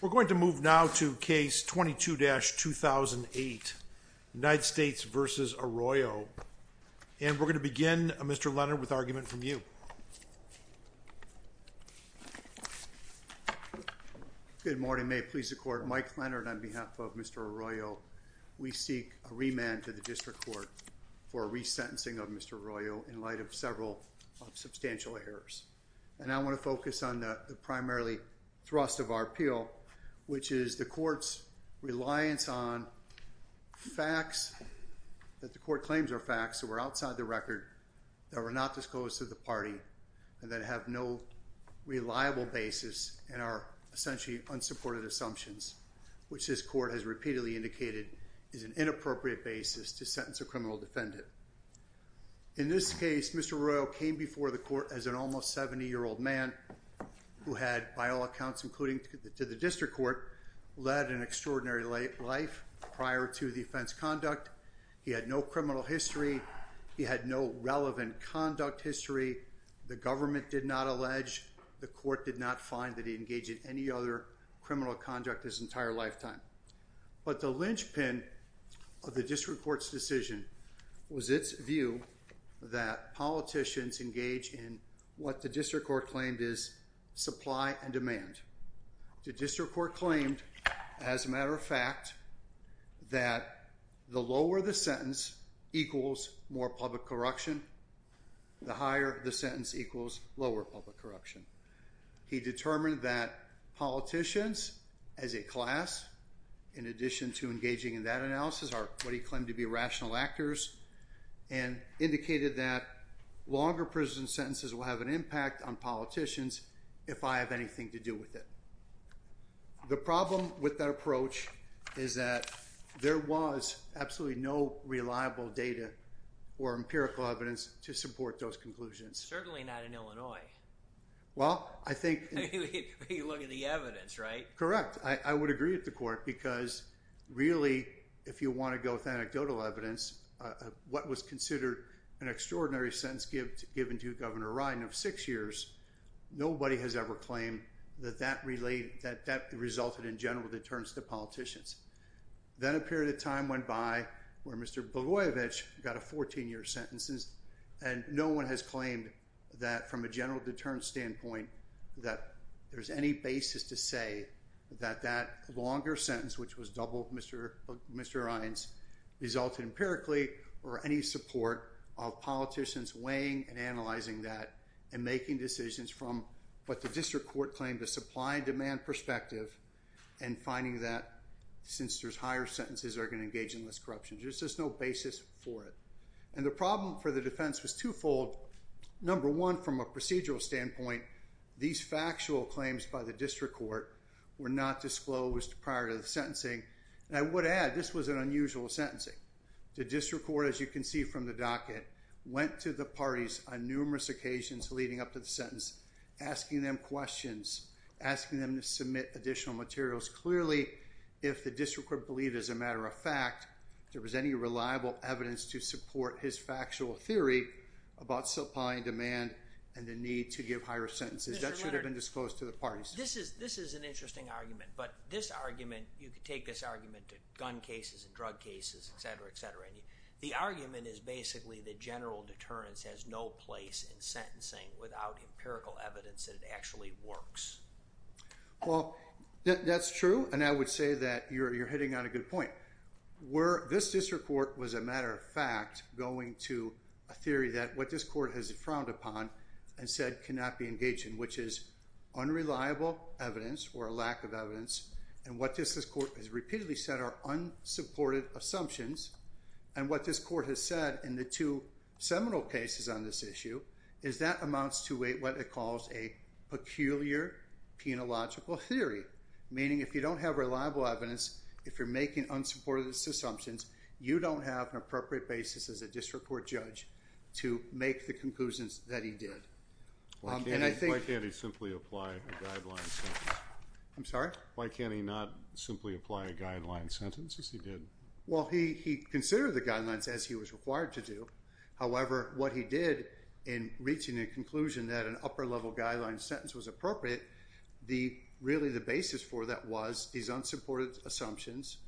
We're going to move now to case 22-2008 United States v. Arroyo and we're going to begin Mr. Leonard with argument from you. Good morning may it please the court Mike Leonard on behalf of Mr. Arroyo we seek a remand to the district court for resentencing of Mr. Arroyo in light of several substantial errors and I want to focus on the primarily thrust of our appeal which is the court's reliance on facts that the court claims are facts that were outside the record that were not disclosed to the party and that have no reliable basis and are essentially unsupported assumptions which this court has repeatedly indicated is an inappropriate basis to sentence a criminal defendant. In this who had by all accounts including to the district court led an extraordinary life prior to the offense conduct he had no criminal history he had no relevant conduct history the government did not allege the court did not find that he engaged in any other criminal conduct his entire lifetime but the linchpin of the district court's decision was its view that politicians engage in what the court claimed is supply and demand. The district court claimed as a matter of fact that the lower the sentence equals more public corruption the higher the sentence equals lower public corruption. He determined that politicians as a class in addition to engaging in that analysis are what he claimed to be rational actors and indicated that longer prison sentences will have an impact on politicians if I have anything to do with it. The problem with that approach is that there was absolutely no reliable data or empirical evidence to support those conclusions. Certainly not in Illinois. Well I think you look at the evidence right? Correct I would agree with the court because really if you want to go with anecdotal evidence what was considered an extraordinary sentence given to Governor Ryan of six years nobody has ever claimed that that related that that resulted in general deterrence to politicians. Then a period of time went by where Mr. Blagojevich got a 14-year sentence and no one has claimed that from a general deterrence standpoint that there's any basis to say that that longer sentence which was doubled Mr. Mr. Ryan's resulted empirically or any support of politicians weighing and analyzing that and making decisions from what the district court claimed to supply and demand perspective and finding that since there's higher sentences are going to engage in less corruption. There's just no basis for it and the problem for the defense was twofold. Number one from a procedural standpoint these factual claims by the district court were not disclosed prior to the sentencing and I the district court as you can see from the docket went to the parties on numerous occasions leading up to the sentence asking them questions asking them to submit additional materials clearly if the district court believed as a matter of fact there was any reliable evidence to support his factual theory about supply and demand and the need to give higher sentences that should have been disclosed to the parties. This is this is an interesting argument but this argument you could take this argument to gun cases and drug cases etc etc and the argument is basically the general deterrence has no place in sentencing without empirical evidence that it actually works. Well that's true and I would say that you're you're hitting on a good point where this district court was a matter of fact going to a theory that what this court has frowned upon and said cannot be engaged in which is unreliable evidence or a lack of evidence and what this this court has repeatedly said are unsupported assumptions and what this court has said in the two seminal cases on this issue is that amounts to a what it calls a peculiar penological theory meaning if you don't have reliable evidence if you're making unsupported assumptions you don't have an appropriate basis as a district court judge to make the conclusions that he did. Why can't he simply apply a guideline sentence? I'm sorry. Why can't he not simply apply a guideline sentence as he did? Well he considered the guidelines as he was required to do however what he did in reaching a conclusion that an upper level guideline sentence was appropriate the really the basis for that was these unsupported assumptions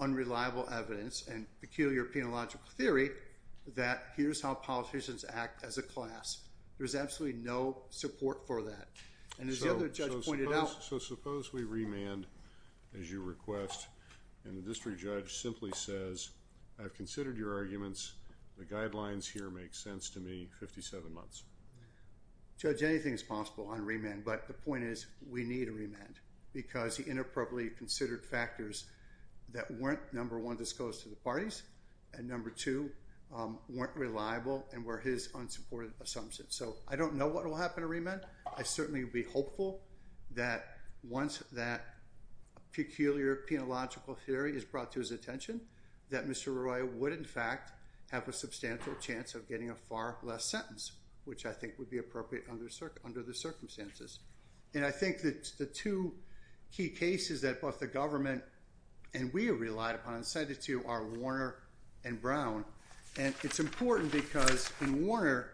unreliable evidence and peculiar penological theory that here's how politicians act as a class. There's absolutely no support for that and as the other judge pointed out. So suppose we remand as you request and the district judge simply says I've considered your arguments the guidelines here make sense to me 57 months. Judge anything is possible on remand but the point is we need a remand because he inappropriately considered factors that weren't number one disclosed to the parties and number two weren't reliable and were his unsupported assumptions so I don't know what will happen to remand I certainly would be hopeful that once that peculiar penological theory is brought to his attention that Mr. Roy would in fact have a substantial chance of getting a far less sentence which I think would be appropriate under the circumstances and I think that the two key cases that both the government and we have relied upon and cited to you are Warner and Brown and it's important because in Warner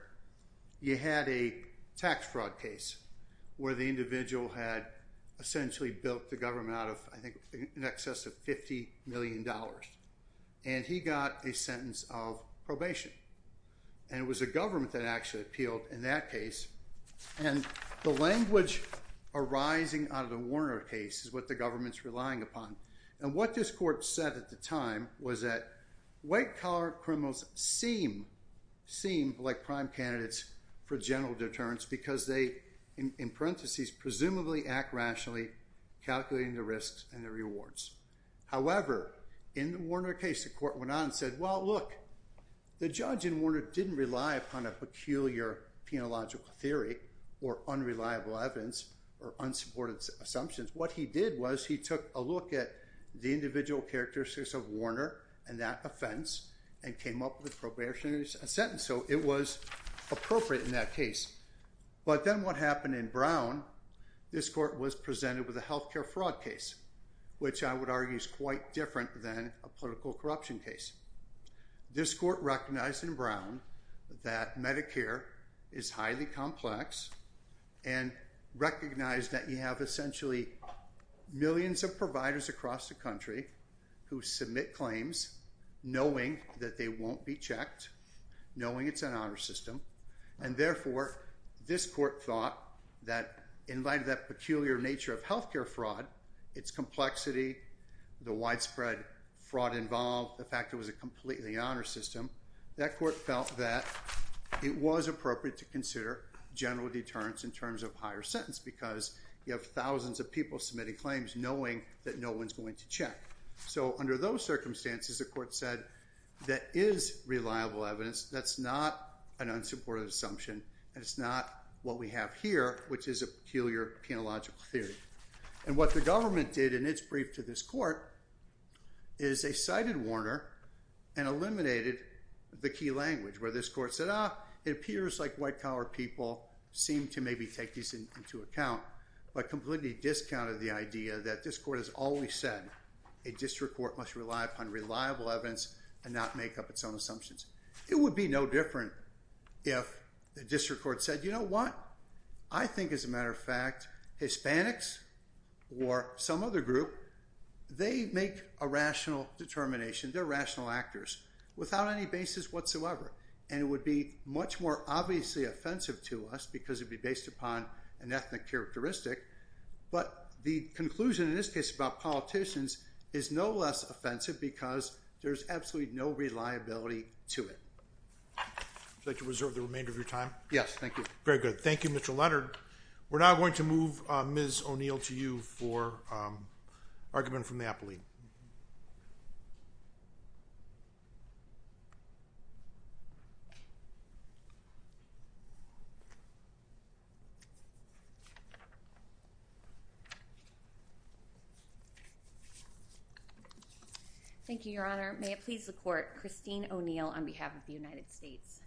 you had a tax fraud case where the individual had essentially built the government out of I think in excess of 50 million dollars and he got a sentence of probation and it was a government that actually appealed in that case and the language arising out of the Warner case is what the government's relying upon and what this court said at the time was that white collar criminals seem like prime candidates for general deterrence because they in parentheses presumably act rationally calculating the risks and the rewards however in the Warner case the court went on and said well look the judge in Warner didn't rely upon a peculiar penological theory or unreliable evidence or unsupported assumptions what he did was he took a characteristics of Warner and that offense and came up with probationary sentence so it was appropriate in that case but then what happened in Brown this court was presented with a health care fraud case which I would argue is quite different than a political corruption case this court recognized in Brown that Medicare is highly complex and recognized that you have essentially millions of providers across the country who submit claims knowing that they won't be checked knowing it's an honor system and therefore this court thought that in light of that peculiar nature of health care fraud its complexity the widespread fraud involved the fact it was a completely honor system that court felt that it was appropriate to consider general deterrence in terms of higher sentence because you have thousands of people submitting claims knowing that no one's going to check so under those circumstances the court said that is reliable evidence that's not an unsupported assumption and it's not what we have here which is a peculiar penological theory and what the government did in its brief to this court is a cited Warner and eliminated the key language where this court set up it appears like white power people seem to maybe take these into account but completely discounted the idea that this court has always said a district court must rely upon reliable evidence and not make up its own assumptions it would be no different if the district court said you know what I think as a matter of fact Hispanics or some other group they make a rational determination they're rational actors without any basis whatsoever and it would be much more obviously offensive to us because it'd based upon an ethnic characteristic but the conclusion in this case about politicians is no less offensive because there's absolutely no reliability to it like to reserve the remainder of your time yes thank you very good Thank You Mr. Leonard we're now going to move on Ms. O'Neill to you for argument from Napoli thank you your honor may it please the court Christine O'Neill on behalf of the United States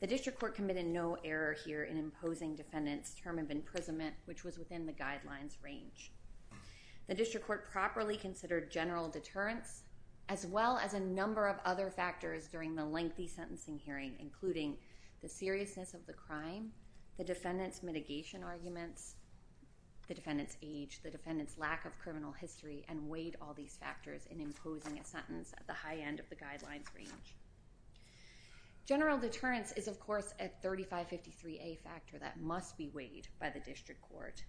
the district court committed no error here in imposing defendants term of imprisonment which was within the guidelines range the district court properly considered general deterrence as well as a number of other factors during the lengthy sentencing hearing including the mitigation arguments the defendants age the defendants lack of criminal history and weighed all these factors in imposing a sentence at the high end of the guidelines range general deterrence is of course at 3553 a factor that must be weighed by the district court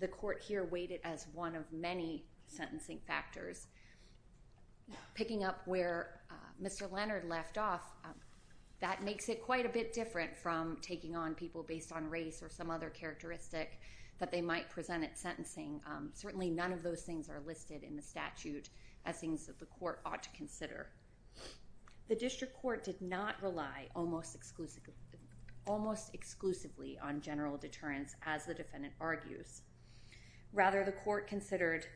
the court here waited as one of many sentencing factors picking up where mr. Leonard left off that makes it quite a or some other characteristic that they might present at sentencing certainly none of those things are listed in the statute as things that the court ought to consider the district court did not rely almost exclusively almost exclusively on general deterrence as the defendant argues rather the court considered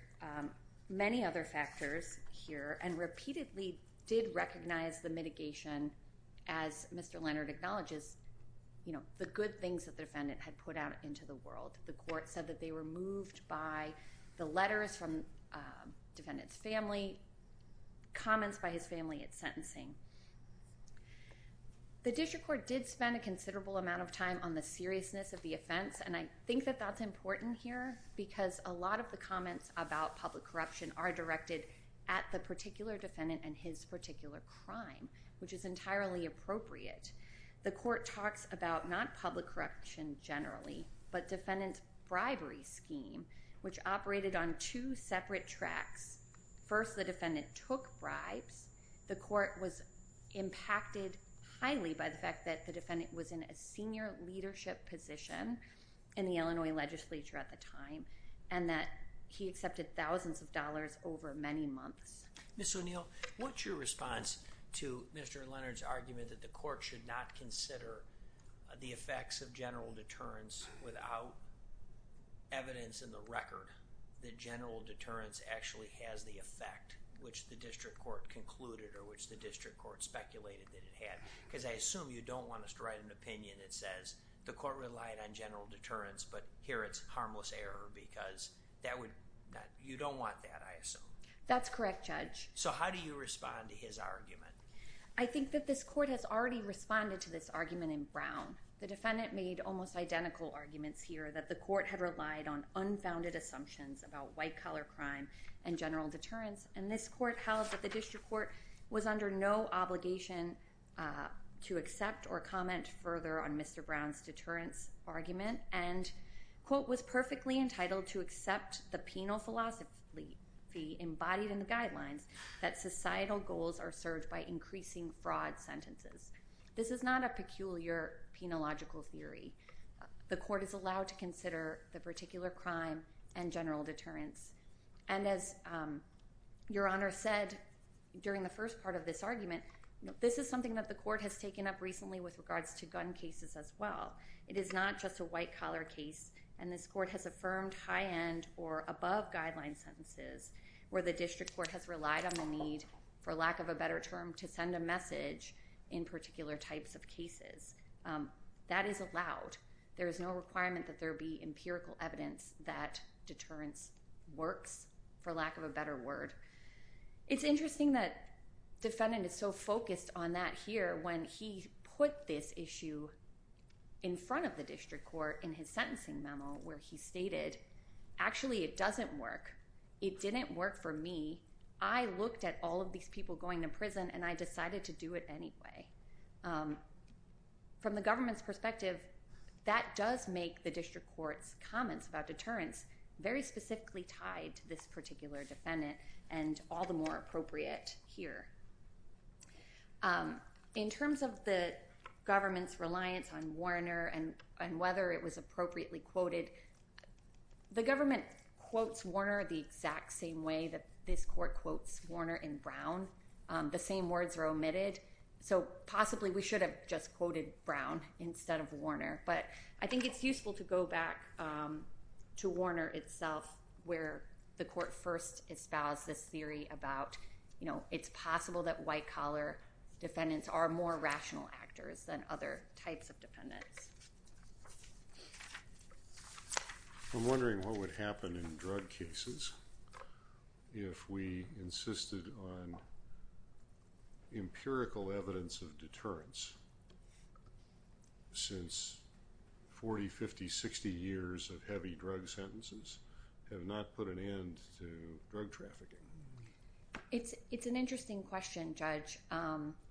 many other factors here and repeatedly did recognize the mitigation as mr. Leonard acknowledges you know the good things that the defendant had put out into the world the court said that they were moved by the letters from defendants family comments by his family at sentencing the district court did spend a considerable amount of time on the seriousness of the offense and I think that that's important here because a lot of the comments about public corruption are directed at the particular defendant and his particular crime which is entirely appropriate the court talks about not public corruption generally but defendants bribery scheme which operated on two separate tracks first the defendant took bribes the court was impacted highly by the fact that the defendant was in a senior leadership position in the Illinois legislature at the time and that he accepted thousands of dollars over many months miss O'Neill what's your response to mr. Leonard's argument that the court should not consider the effects of general deterrence without evidence in the record the general deterrence actually has the effect which the district court concluded or which the district court speculated that it had because I assume you don't want us to write an opinion it says the court relied on general deterrence but here it's harmless error because that would you don't want that I assume that's correct judge so how do you respond to his argument I think that this court has already responded to this argument in Brown the defendant made almost identical arguments here that the court had relied on unfounded assumptions about white collar crime and general deterrence and this court held that the district court was under no obligation to accept or comment further on mr. Brown's deterrence argument and quote was perfectly entitled to accept the penal philosophy the embodied in the guidelines that societal goals are served by increasing fraud sentences this is not a peculiar penological theory the court is allowed to consider the particular crime and general deterrence and as your honor said during the first part of this argument this is something that the court has taken up recently with regards to gun cases as well it is not just a white collar case and this court has affirmed high-end or above guideline sentences where the district court has relied on the need for lack of a better term to send a message in particular types of cases that is allowed there is no requirement that there be empirical evidence that deterrence works for lack of a better word it's interesting that defendant is so focused on that here when he put this in his sentencing memo where he stated actually it doesn't work it didn't work for me I looked at all of these people going to prison and I decided to do it anyway from the government's perspective that does make the district court's comments about deterrence very specifically tied to this particular defendant and all the more appropriate here in terms of the government's Warner and and whether it was appropriately quoted the government quotes Warner the exact same way that this court quotes Warner in Brown the same words are omitted so possibly we should have just quoted Brown instead of Warner but I think it's useful to go back to Warner itself where the court first espoused this theory about you know it's possible that white collar defendants are more rational actors than other types of defendants I'm wondering what would happen in drug cases if we insisted on empirical evidence of deterrence since 40 50 60 years of heavy drug sentences have not put an end to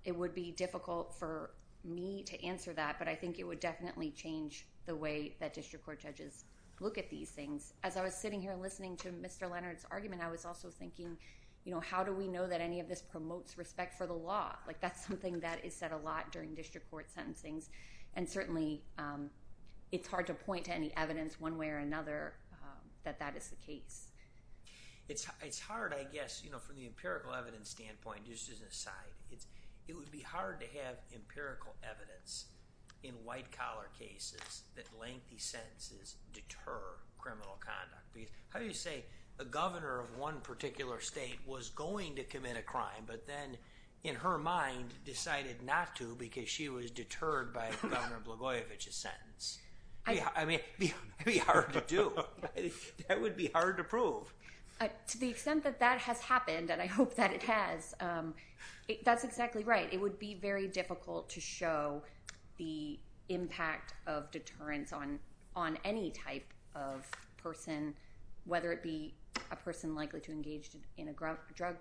it would be difficult for me to answer that but I think it would definitely change the way that district court judges look at these things as I was sitting here listening to mr. Leonard's argument I was also thinking you know how do we know that any of this promotes respect for the law like that's something that is said a lot during district court sentencings and certainly it's hard to point to any evidence one way or another that that is the case it's it's hard I guess you know from the empirical evidence standpoint just as an it's it would be hard to have empirical evidence in white-collar cases that lengthy sentences deter criminal conduct because how do you say a governor of one particular state was going to commit a crime but then in her mind decided not to because she was deterred by governor Blagojevich's sentence yeah I mean be hard to do that would be hard to prove to the extent that that has happened and I that's exactly right it would be very difficult to show the impact of deterrence on on any type of person whether it be a person likely to engage in a drug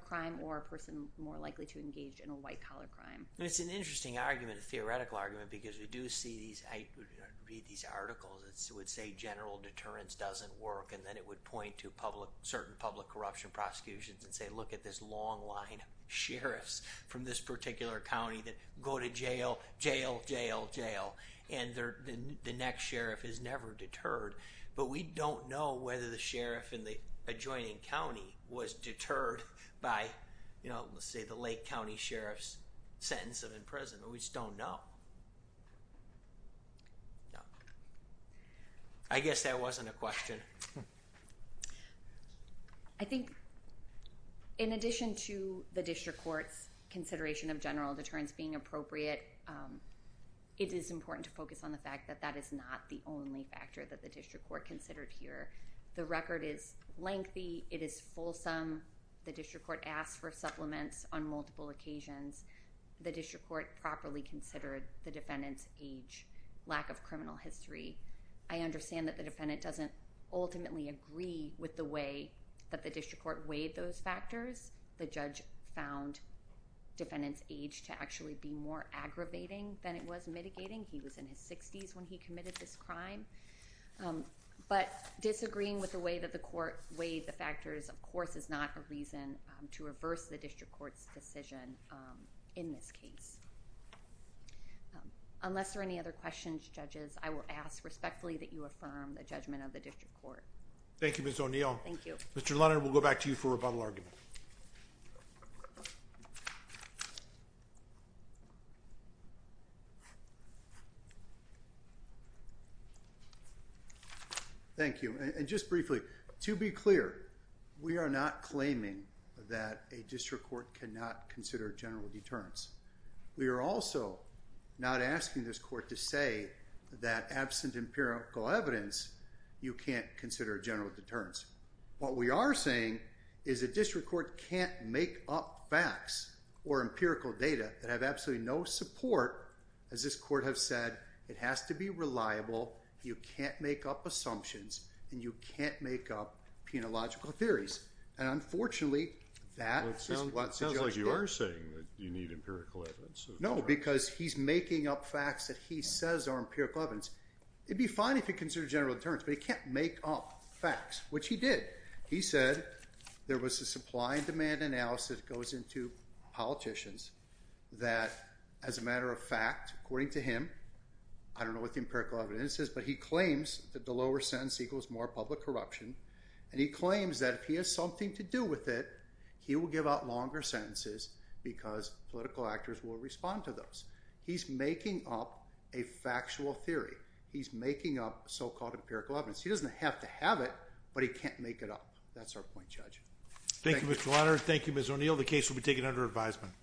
crime or a person more likely to engage in a white-collar crime it's an interesting argument a theoretical argument because we do see these I read these articles it's it would say general deterrence doesn't work and then it would point to public certain public corruption prosecutions and say look at this long line sheriffs from this particular County that go to jail jail jail jail and they're the next sheriff is never deterred but we don't know whether the sheriff in the adjoining County was deterred by you know let's say the Lake County Sheriff's sentence of in prison we just don't know I guess there wasn't a question I think in addition to the district courts consideration of general deterrence being appropriate it is important to focus on the fact that that is not the only factor that the district court considered here the record is lengthy it is fulsome the district court asked for supplements on multiple occasions the district court properly considered the defendant doesn't ultimately agree with the way that the district court weighed those factors the judge found defendants age to actually be more aggravating than it was mitigating he was in his 60s when he committed this crime but disagreeing with the way that the court weighed the factors of course is not a reason to reverse the district courts decision in this case unless there are any other questions judges I will ask respectfully that you affirm the judgment of the district court Thank You miss O'Neill Thank You mr. Leonard we'll go back to you for rebuttal argument thank you and just briefly to be clear we are not claiming that a district court cannot consider general deterrence we are also not asking this court to say that absent empirical evidence you can't consider a general deterrence what we are saying is a district court can't make up facts or empirical data that have absolutely no support as this court have said it has to be reliable you can't make up assumptions and you can't make up penological theories and unfortunately that sounds like you are saying that you need empirical evidence no because he's making up facts that he says are empirical evidence it'd be fine if you consider general deterrence but he can't make up facts which he did he said there was a supply and demand analysis goes into politicians that as a matter of fact according to him I don't know what the empirical evidence is but he claims that the lower sentence equals more public corruption and he claims that if he has something to do with it he will give out longer sentences because political actors will respond to those he's making up a factual theory he's making up so-called empirical evidence he doesn't have to have it but he can't make it up that's our point judge thank you Mr. Leonard thank you Ms. O'Neill the case will be taken under advisement